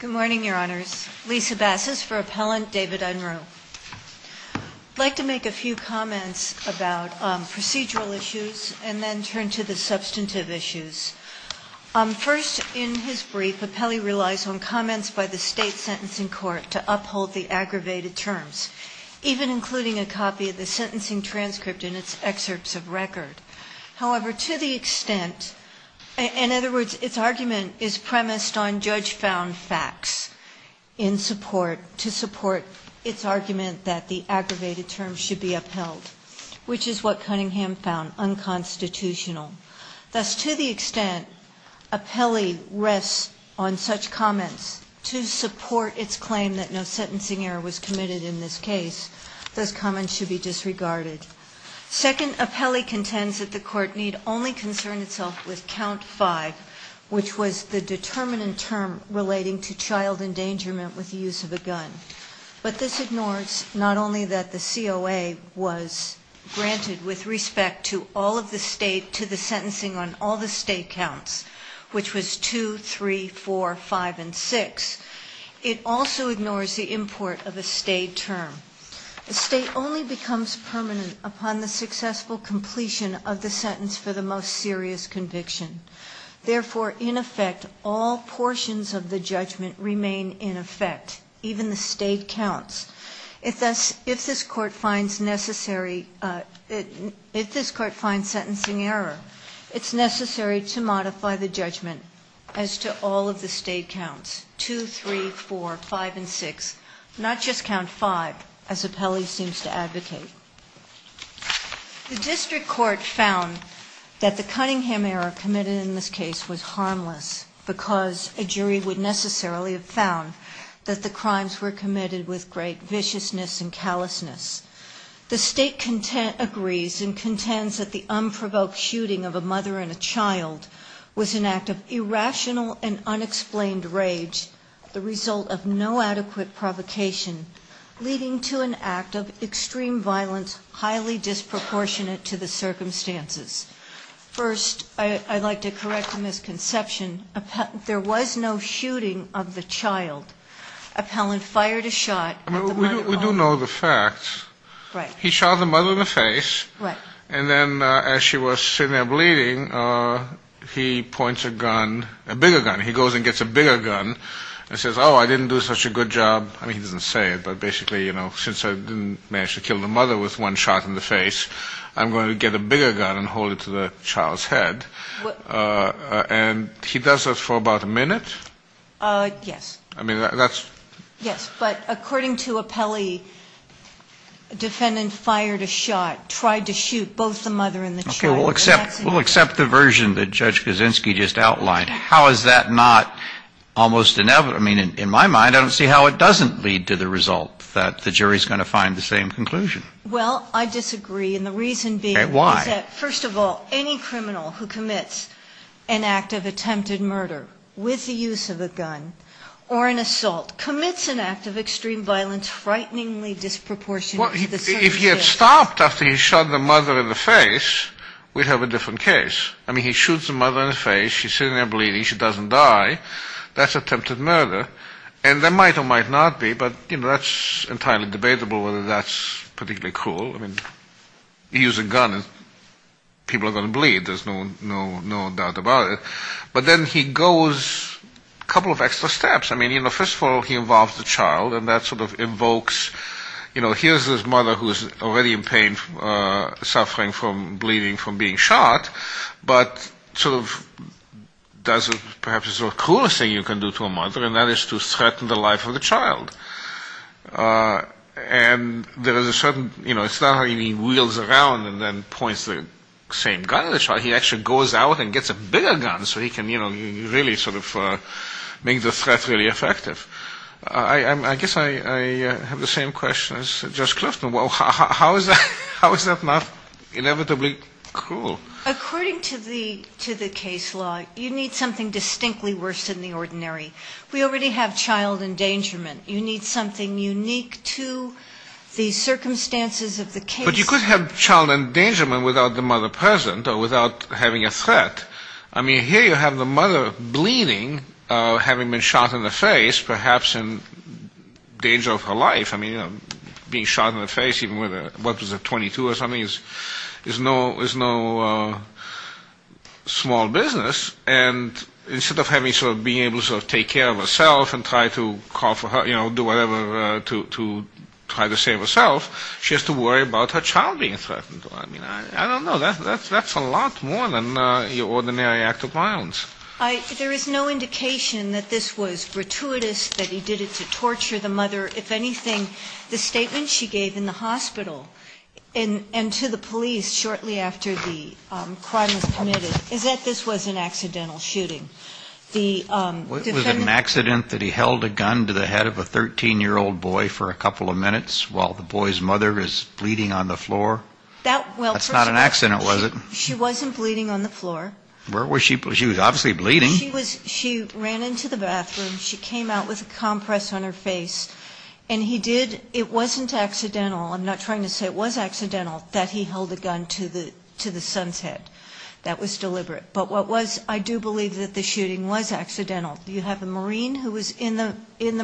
Good morning, Your Honors. Lisa Bassas for Appellant David Unruh. I'd like to make a few comments about procedural issues and then turn to the substantive issues. First, in his brief, Appellee relies on comments by the State Sentencing Court to uphold the aggravated terms, even including a copy of the sentencing transcript in its excerpts of record. However, to the extent, in other words, its argument is premised on judge-found facts to support its argument that the aggravated terms should be upheld, which is what Cunningham found unconstitutional. Thus, to the extent Appellee rests on such comments to support its claim that no sentencing error was committed in this case, those comments should be disregarded. Second, Appellee contends that the Court need only concern itself with Count 5, which was the determinant term relating to child endangerment with the use of a gun. But this ignores not only that the COA was granted with respect to all of the State, to the sentencing on all the State counts, which was 2, 3, 4, 5, and 6. It also ignores the import of a State term. A State only becomes permanent upon the successful completion of the sentence for the most serious conviction. Therefore, in effect, all portions of the judgment remain in effect, even the State counts. If this Court finds necessary, if this Court finds sentencing error, it's necessary to modify the judgment as to all of the State counts, 2, 3, 4, 5, and 6, not just Count 5, as Appellee seems to advocate. The District Court found that the Cunningham error committed in this case was harmless, because a jury would necessarily have found that the crimes were committed with great viciousness and callousness. The State agrees and contends that the unprovoked shooting of a mother and a child was an act of irrational and unexplained rage, the result of no adequate provocation, leading to an act of extreme violence highly disproportionate to the circumstances. First, I'd like to correct a misconception. There was no shooting of the child. Appellant fired a shot at the mother. We do know the facts. He shot the mother in the face, and then as she was sitting there bleeding, he points a gun, a bigger gun. He goes and gets a bigger gun and says, oh, I didn't do such a good job. I mean, he doesn't say it, but basically, you know, since I didn't manage to kill the mother with one shot in the face, I'm going to get a bigger gun and hold it to the child's head. And he does that for about a minute? Yes. I mean, that's... Yes, but according to Appellee, defendant fired a shot, tried to shoot both the mother and the child. Okay. We'll accept the version that Judge Kaczynski just outlined. How is that not almost inevitable? I mean, in my mind, I don't see how it doesn't lead to the result that the jury is going to find the same conclusion. Well, I disagree, and the reason being... First of all, any criminal who commits an act of attempted murder with the use of a gun or an assault commits an act of extreme violence frighteningly disproportionate... Well, if he had stopped after he shot the mother in the face, we'd have a different case. I mean, he shoots the mother in the face. She's sitting there bleeding. She doesn't die. That's attempted murder. And there might or might not be, but, you know, that's entirely debatable whether that's particularly cruel. I mean, you use a gun and people are going to bleed. There's no doubt about it. But then he goes a couple of extra steps. I mean, you know, first of all, he involves the child, and that sort of evokes... You know, here's this mother who is already in pain, suffering from bleeding from being shot, but sort of does perhaps the cruelest thing you can do to a mother, and that is to threaten the life of the child. And there is a certain... You know, it's not how he wheels around and then points the same gun at the child. He actually goes out and gets a bigger gun so he can, you know, really sort of make the threat really effective. I guess I have the same question as Judge Clifton. How is that not inevitably cruel? According to the case law, you need something distinctly worse than the ordinary. We already have child endangerment. You need something unique to the circumstances of the case. But you could have child endangerment without the mother present or without having a threat. I mean, here you have the mother bleeding, having been shot in the face, perhaps in danger of her life. I mean, being shot in the face, even with what was a .22 or something, is no small business. And instead of having sort of being able to sort of take care of herself and try to call for her, you know, do whatever to try to save herself, she has to worry about her child being threatened. I mean, I don't know. That's a lot more than your ordinary act of violence. There is no indication that this was gratuitous, that he did it to torture the mother. If anything, the statement she gave in the hospital and to the police shortly after the crime was committed is that this was an accidental shooting. Was it an accident that he held a gun to the head of a 13-year-old boy for a couple of minutes while the boy's mother is bleeding on the floor? That's not an accident, was it? She wasn't bleeding on the floor. Where was she bleeding? She was obviously bleeding. She ran into the bathroom. She came out with a compress on her face. And he did ñ it wasn't accidental. I'm not trying to say it was accidental that he held a gun to the son's head. That was deliberate. But what was ñ I do believe that the shooting was accidental. You have a Marine who was in the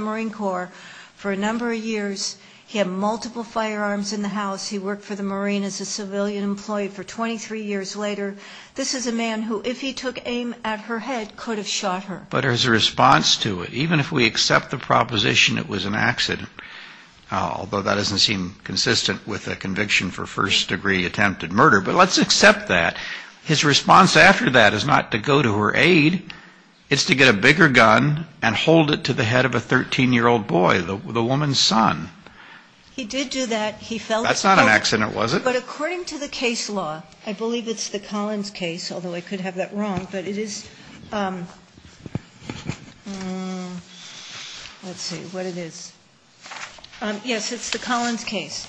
Marine Corps for a number of years. He had multiple firearms in the house. He worked for the Marine as a civilian employee for 23 years later. This is a man who, if he took aim at her head, could have shot her. But there's a response to it. Even if we accept the proposition it was an accident, although that doesn't seem consistent with a conviction for first-degree attempted murder, but let's accept that. His response after that is not to go to her aid. It's to get a bigger gun and hold it to the head of a 13-year-old boy, the woman's son. He did do that. He felt ñ That's not an accident, was it? But according to the case law, I believe it's the Collins case, although I could have that wrong, but it is ñ let's see what it is. Yes, it's the Collins case.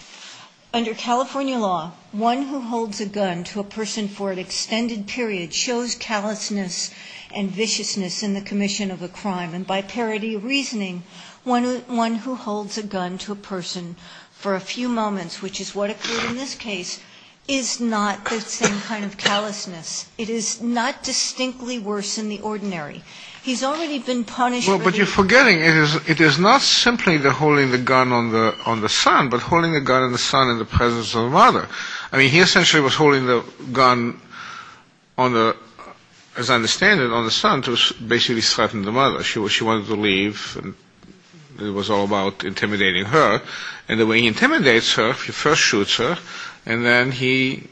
Under California law, one who holds a gun to a person for an extended period shows callousness and viciousness in the commission of a crime. And by parody reasoning, one who holds a gun to a person for a few moments, which is what occurred in this case, is not the same kind of callousness. It is not distinctly worse than the ordinary. He's already been punished ñ Well, but you're forgetting it is not simply the holding the gun on the son but holding the gun on the son in the presence of the mother. I mean, he essentially was holding the gun on the ñ as I understand it, on the son to basically threaten the mother. She wanted to leave and it was all about intimidating her. And the way he intimidates her, he first shoots her, and then he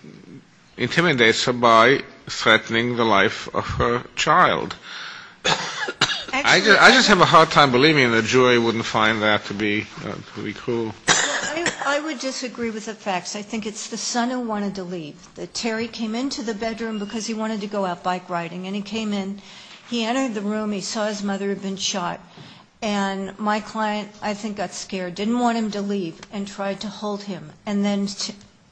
intimidates her by threatening the life of her child. I just have a hard time believing that Joy wouldn't find that to be cruel. I would disagree with the facts. I think it's the son who wanted to leave. Terry came into the bedroom because he wanted to go out bike riding. And he came in, he entered the room, he saw his mother had been shot. And my client, I think, got scared, didn't want him to leave, and tried to hold him. And then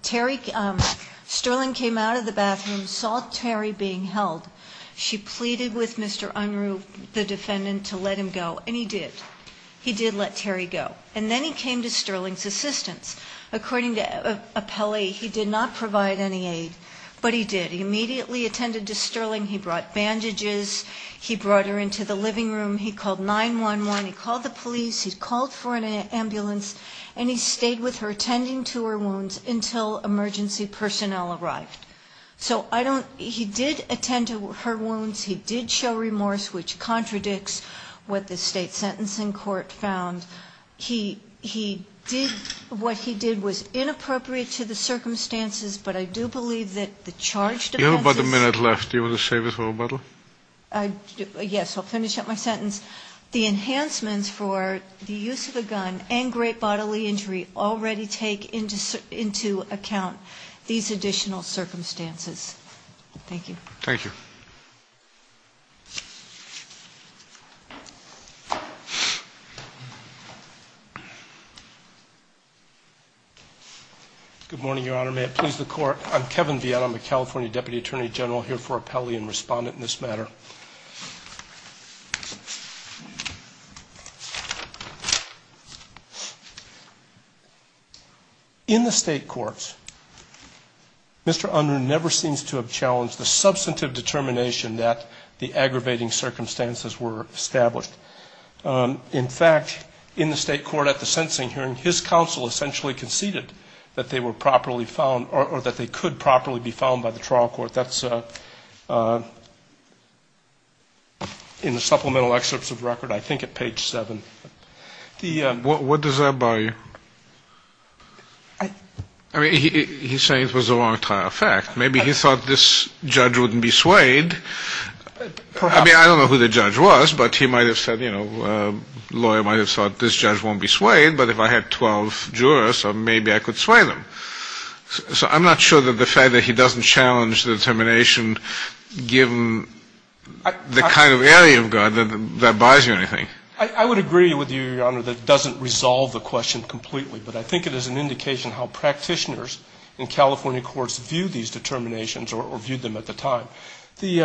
Terry ñ Sterling came out of the bathroom, saw Terry being held. She pleaded with Mr. Unruh, the defendant, to let him go, and he did. He did let Terry go. And then he came to Sterling's assistance. According to Appelli, he did not provide any aid, but he did. He immediately attended to Sterling. He brought bandages. He brought her into the living room. He called 911. He called the police. He called for an ambulance. And he stayed with her, tending to her wounds, until emergency personnel arrived. So I don't ñ he did attend to her wounds. He did show remorse, which contradicts what the state sentencing court found. He did ñ what he did was inappropriate to the circumstances, but I do believe that the charge defenses ñ You have about a minute left. Do you want to save it for a bottle? Yes, I'll finish up my sentence. The enhancements for the use of a gun and great bodily injury already take into account these additional circumstances. Thank you. Thank you. Good morning, Your Honor. May it please the Court, I'm Kevin Vietta. I'm a California Deputy Attorney General, here for appellee and respondent in this matter. In the state courts, Mr. Unruh never seems to have challenged the substantive determination that the aggravating circumstances were established. In fact, in the state court at the sentencing hearing, his counsel essentially conceded that they were properly found, or that they could properly be found by the trial court. That's in the supplemental excerpts of the record, I think at page 7. What does that buy you? I mean, he's saying it was a long-time fact. Maybe he thought this judge wouldn't be swayed. I mean, I don't know who the judge was, but he might have said, you know, a lawyer might have thought this judge won't be swayed, but if I had 12 jurors, maybe I could sway them. So I'm not sure that the fact that he doesn't challenge the determination, given the kind of area of God, that buys you anything. I would agree with you, Your Honor, that it doesn't resolve the question completely, but I think it is an indication how practitioners in California courts view these determinations or viewed them at the time. The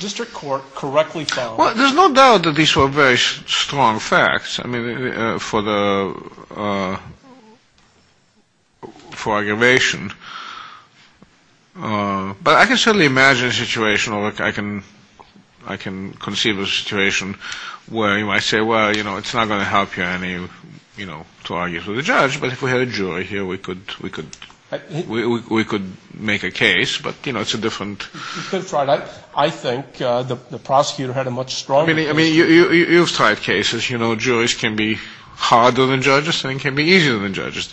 district court correctly found them. Well, there's no doubt that these were very strong facts, I mean, for the ‑‑ for aggravation. But I can certainly imagine a situation, or I can conceive a situation where you might say, well, you know, it's not going to help you any, you know, to argue for the judge, but if we had a jury here, we could make a case. But, you know, it's a different ‑‑ I think the prosecutor had a much stronger view. I mean, you've tried cases. You know, juries can be harder than judges and can be easier than judges.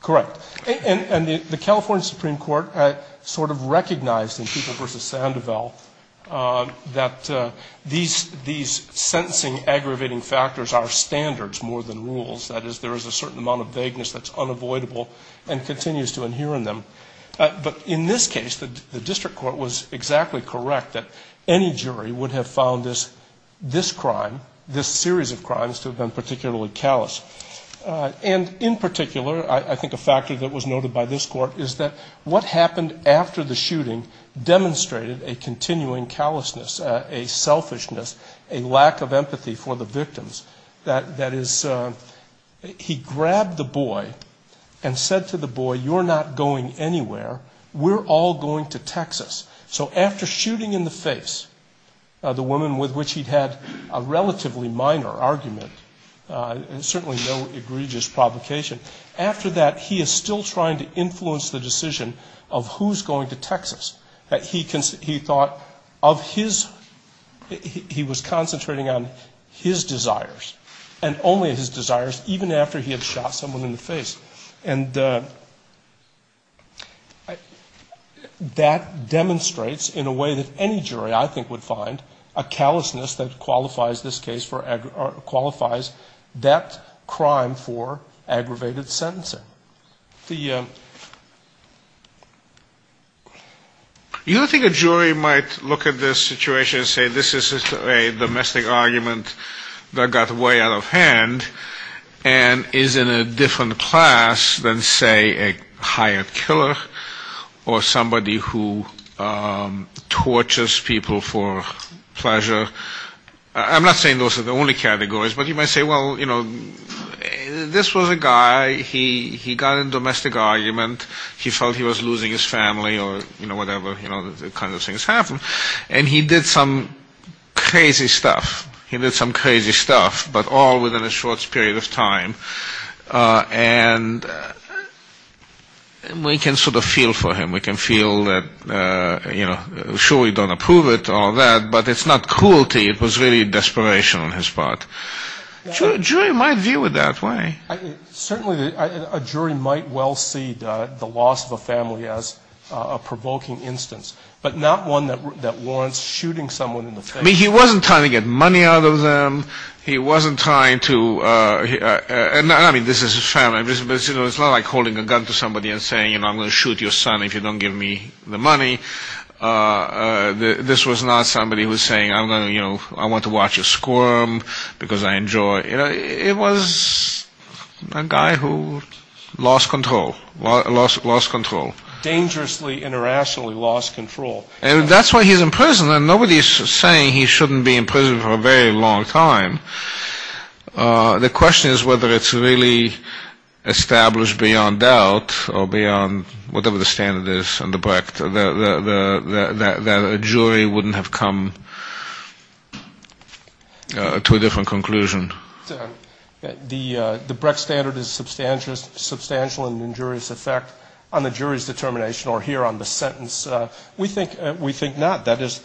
Correct. And the California Supreme Court sort of recognized in People v. Sandoval that these sentencing aggravating factors are standards more than rules. That is, there is a certain amount of vagueness that's unavoidable and continues to adhere in them. But in this case, the district court was exactly correct that any jury would have found this crime, this series of crimes, to have been particularly callous. And in particular, I think a factor that was noted by this court is that what happened after the shooting demonstrated a continuing callousness, a selfishness, a lack of empathy for the victims. That is, he grabbed the boy and said to the boy, you're not going anywhere. We're all going to Texas. So after shooting in the face the woman with which he'd had a relatively minor argument and certainly no egregious provocation, after that he is still trying to influence the decision of who's going to Texas. He thought of his ‑‑ he was concentrating on his desires and only his desires even after he had shot someone in the face. And that demonstrates in a way that any jury I think would find a callousness that qualifies this case for ‑‑ qualifies that crime for aggravated sentencing. The ‑‑ I think a jury might look at this situation and say this is a domestic argument that got way out of hand and is in a different class than, say, a hired killer or somebody who tortures people for pleasure. I'm not saying those are the only categories, but you might say, well, you know, this was a guy. He got in a domestic argument. He felt he was losing his family or, you know, whatever kind of things happened. And he did some crazy stuff. He did some crazy stuff, but all within a short period of time. And we can sort of feel for him. We can feel that, you know, sure we don't approve it, all that, but it's not cruelty. It was really desperation on his part. A jury might view it that way. Certainly a jury might well see the loss of a family as a provoking instance, but not one that warrants shooting someone in the face. I mean, he wasn't trying to get money out of them. He wasn't trying to ‑‑ I mean, this is his family. It's not like holding a gun to somebody and saying, you know, I'm going to shoot your son if you don't give me the money. This was not somebody who was saying, you know, I want to watch a squirm because I enjoy. You know, it was a guy who lost control. Lost control. Dangerously, internationally lost control. And that's why he's in prison. And nobody is saying he shouldn't be in prison for a very long time. The question is whether it's really established beyond doubt or beyond whatever the standard is. That a jury wouldn't have come to a different conclusion. The Brecht standard is substantial and injurious effect on the jury's determination or here on the sentence. We think not. That is,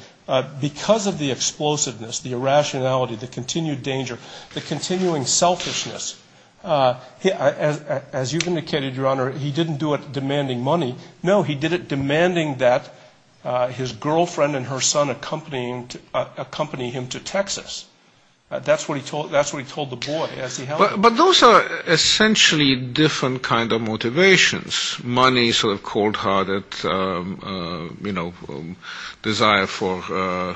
because of the explosiveness, the irrationality, the continued danger, the continuing selfishness, as you've indicated, Your Honor, he didn't do it demanding money. No, he did it demanding that his girlfriend and her son accompany him to Texas. That's what he told the boy as he held him. But those are essentially different kind of motivations. Money sort of cold-hearted, you know, desire for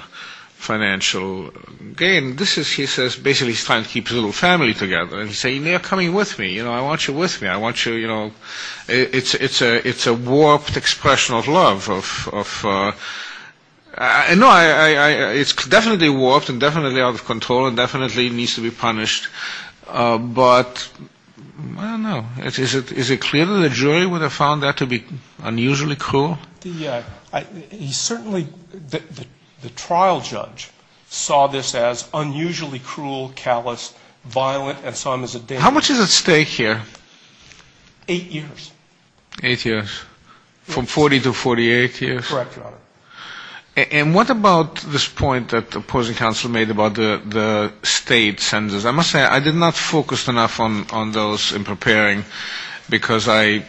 financial gain. This is, he says, basically he's trying to keep his little family together. And he's saying, they are coming with me. You know, I want you with me. I want you, you know, it's a warped expression of love. No, it's definitely warped and definitely out of control and definitely needs to be punished. But I don't know. Is it clear that a jury would have found that to be unusually cruel? He certainly, the trial judge, saw this as unusually cruel, callous, violent, and saw him as a danger. How much is at stake here? Eight years. Eight years. From 40 to 48 years? Correct, Your Honor. And what about this point that opposing counsel made about the state sentences? I must say, I did not focus enough on those in preparing because I,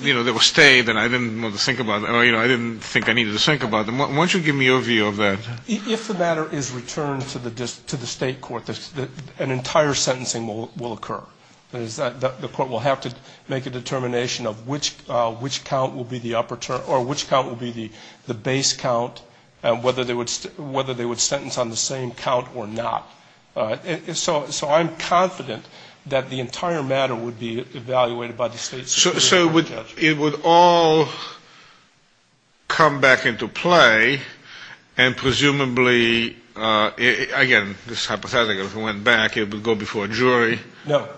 you know, they were stayed and I didn't want to think about them, or, you know, I didn't think I needed to think about them. Why don't you give me your view of that? If the matter is returned to the state court, an entire sentencing will occur. The court will have to make a determination of which count will be the upper term or which count will be the base count and whether they would sentence on the same count or not. So I'm confident that the entire matter would be evaluated by the state. So it would all come back into play and presumably, again, this is hypothetical. If it went back, it would go before a jury. No,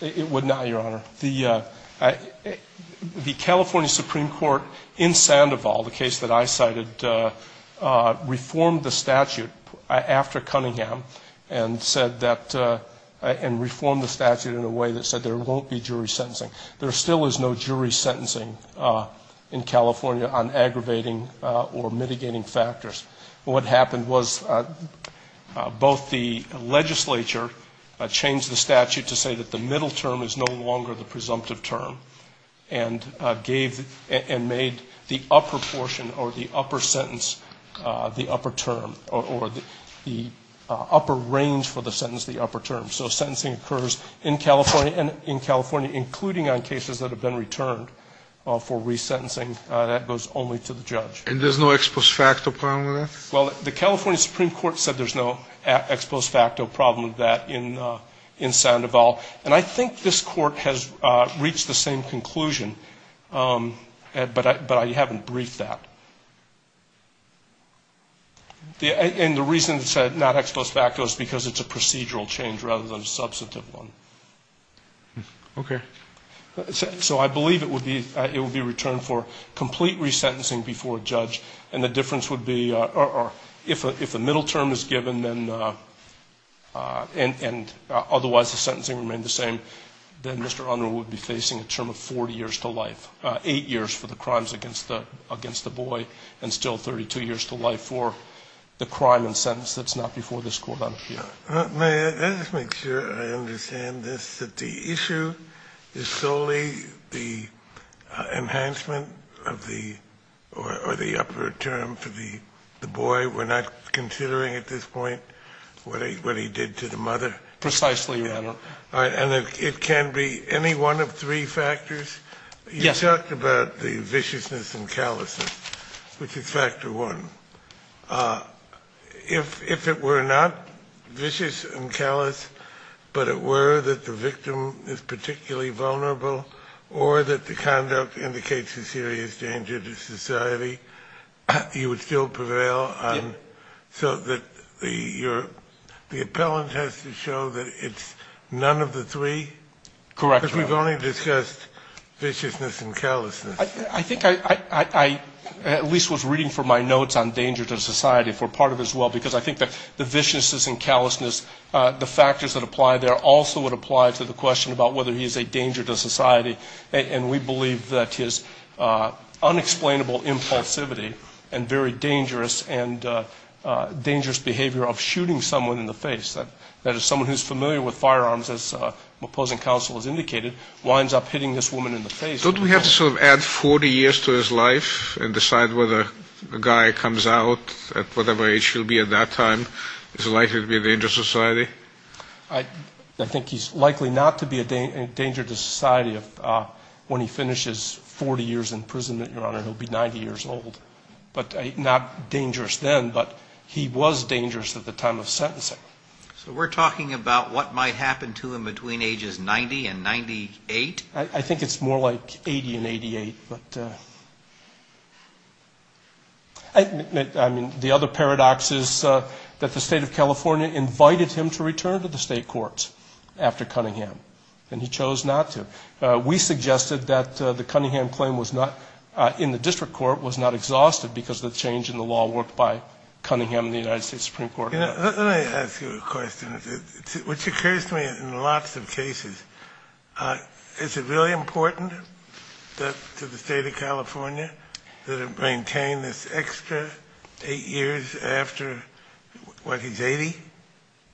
it would not, Your Honor. The California Supreme Court in Sandoval, the case that I cited, reformed the statute after Cunningham and said that, and reformed the statute in a way that said there won't be jury sentencing. There still is no jury sentencing in California on aggravating or mitigating factors. What happened was both the legislature changed the statute to say that the middle term is no longer the presumptive term and gave and made the upper portion or the upper sentence the upper term, or the upper range for the sentence the upper term. So sentencing occurs in California, including on cases that have been returned for resentencing. That goes only to the judge. And there's no ex post facto problem with that? Well, the California Supreme Court said there's no ex post facto problem with that in Sandoval. And I think this court has reached the same conclusion, but I haven't briefed that. And the reason it said not ex post facto is because it's a procedural change rather than a substantive one. Okay. So I believe it would be returned for complete resentencing before a judge, and the difference would be if a middle term is given and otherwise the sentencing remained the same, then Mr. Unruh would be facing a term of 40 years to life, 8 years for the crimes against the boy, and still 32 years to life for the crime and sentence that's not before this court. May I just make sure I understand this, that the issue is solely the enhancement of the, or the upper term for the boy? We're not considering at this point what he did to the mother? Precisely, Your Honor. And it can be any one of three factors? Yes. You talked about the viciousness and callousness, which is factor one. If it were not vicious and callous, but it were that the victim is particularly vulnerable, or that the conduct indicates a serious danger to society, you would still prevail on, so that the appellant has to show that it's none of the three? Correct, Your Honor. Because we've only discussed viciousness and callousness. I think I at least was reading from my notes on danger to society for part of it as well, because I think that the viciousness and callousness, the factors that apply there, also would apply to the question about whether he is a danger to society, and we believe that his unexplainable impulsivity and very dangerous and dangerous behavior of shooting someone in the face, that as someone who's familiar with firearms, as my opposing counsel has indicated, winds up hitting this woman in the face. Don't we have to sort of add 40 years to his life and decide whether the guy comes out at whatever age he'll be at that time? Is it likely to be a danger to society? I think he's likely not to be a danger to society when he finishes 40 years in prison, Your Honor. He'll be 90 years old, but not dangerous then, but he was dangerous at the time of sentencing. So we're talking about what might happen to him between ages 90 and 98? I think it's more like 80 and 88. I mean, the other paradox is that the State of California invited him to return to the state courts after Cunningham, and he chose not to. We suggested that the Cunningham claim was not, in the district court, was not exhausted because of the change in the law worked by Cunningham and the United States Supreme Court. Let me ask you a question, which occurs to me in lots of cases. Is it really important to the State of California that it maintain this extra eight years after, what, he's 80?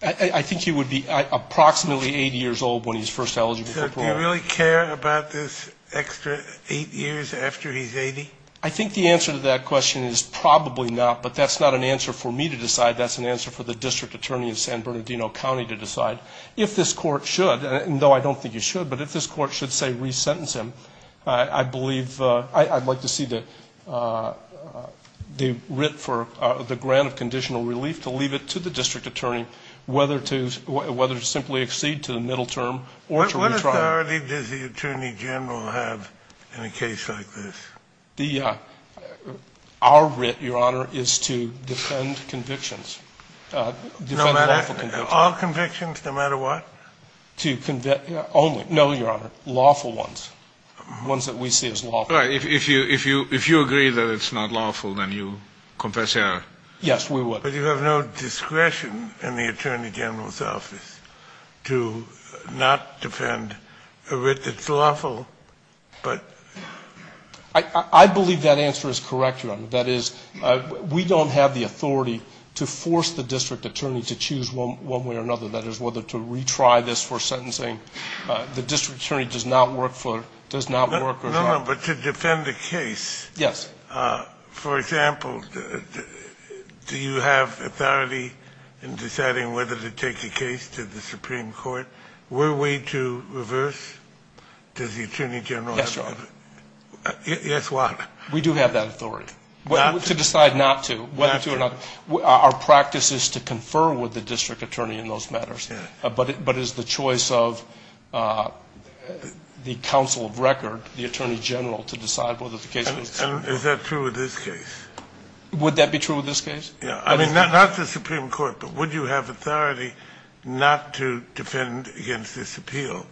I think he would be approximately 80 years old when he's first eligible for parole. So do you really care about this extra eight years after he's 80? I think the answer to that question is probably not, but that's not an answer for me to decide. That's an answer for the district attorney in San Bernardino County to decide. If this court should, and though I don't think you should, but if this court should say resentence him, I believe I'd like to see the writ for the grant of conditional relief to leave it to the district attorney, whether to simply accede to the middle term or to retrial. What authority does the attorney general have in a case like this? Our writ, Your Honor, is to defend convictions, defend lawful convictions. All convictions, no matter what? Only, no, Your Honor, lawful ones, ones that we see as lawful. All right. If you agree that it's not lawful, then you confess error. Yes, we would. But you have no discretion in the attorney general's office to not defend a writ that's lawful, but. I believe that answer is correct, Your Honor. That is, we don't have the authority to force the district attorney to choose one way or another, that is, whether to retry this for sentencing. The district attorney does not work for, does not work. No, no, but to defend a case. Yes. For example, do you have authority in deciding whether to take a case to the Supreme Court? Were we to reverse? Does the attorney general have authority? Yes, Your Honor. Yes, why? We do have that authority. Not to? To decide not to, whether to or not. Our practice is to confer with the district attorney in those matters. But is the choice of the counsel of record, the attorney general, to decide whether the case was. And is that true with this case? Would that be true with this case? I mean, not the Supreme Court, but would you have authority not to defend against this appeal?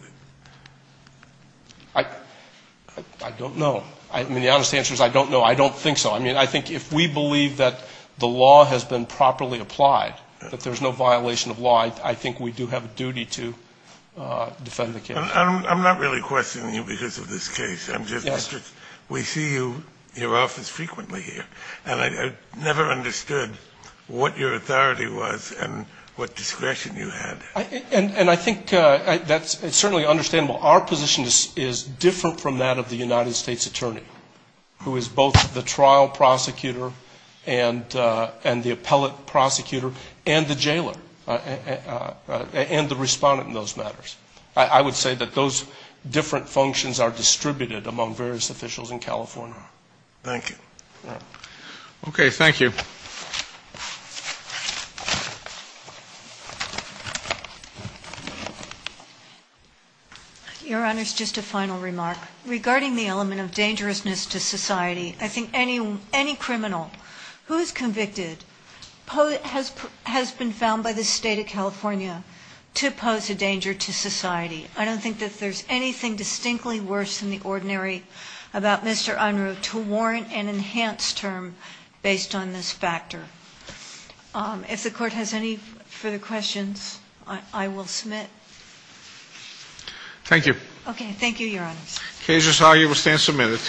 I don't know. I mean, the honest answer is I don't know. I don't think so. I mean, I think if we believe that the law has been properly applied, that there's no violation of law, I think we do have a duty to defend the case. I'm not really questioning you because of this case. I'm just interested. We see you in your office frequently here. And I never understood what your authority was and what discretion you had. And I think that's certainly understandable. Our position is different from that of the United States attorney, who is both the trial prosecutor and the appellate prosecutor and the jailer and the respondent in those matters. I would say that those different functions are distributed among various officials in California. Thank you. Okay. Thank you. Your Honors, just a final remark. Regarding the element of dangerousness to society, I think any criminal who is convicted has been found by the State of California to pose a danger to society. I don't think that there's anything distinctly worse than the ordinary about Mr. Unruh to warrant an enhanced term based on this factor. If the Court has any further questions, I will submit. Thank you. Okay. Thank you, Your Honors. Case is argued. We stand submitted.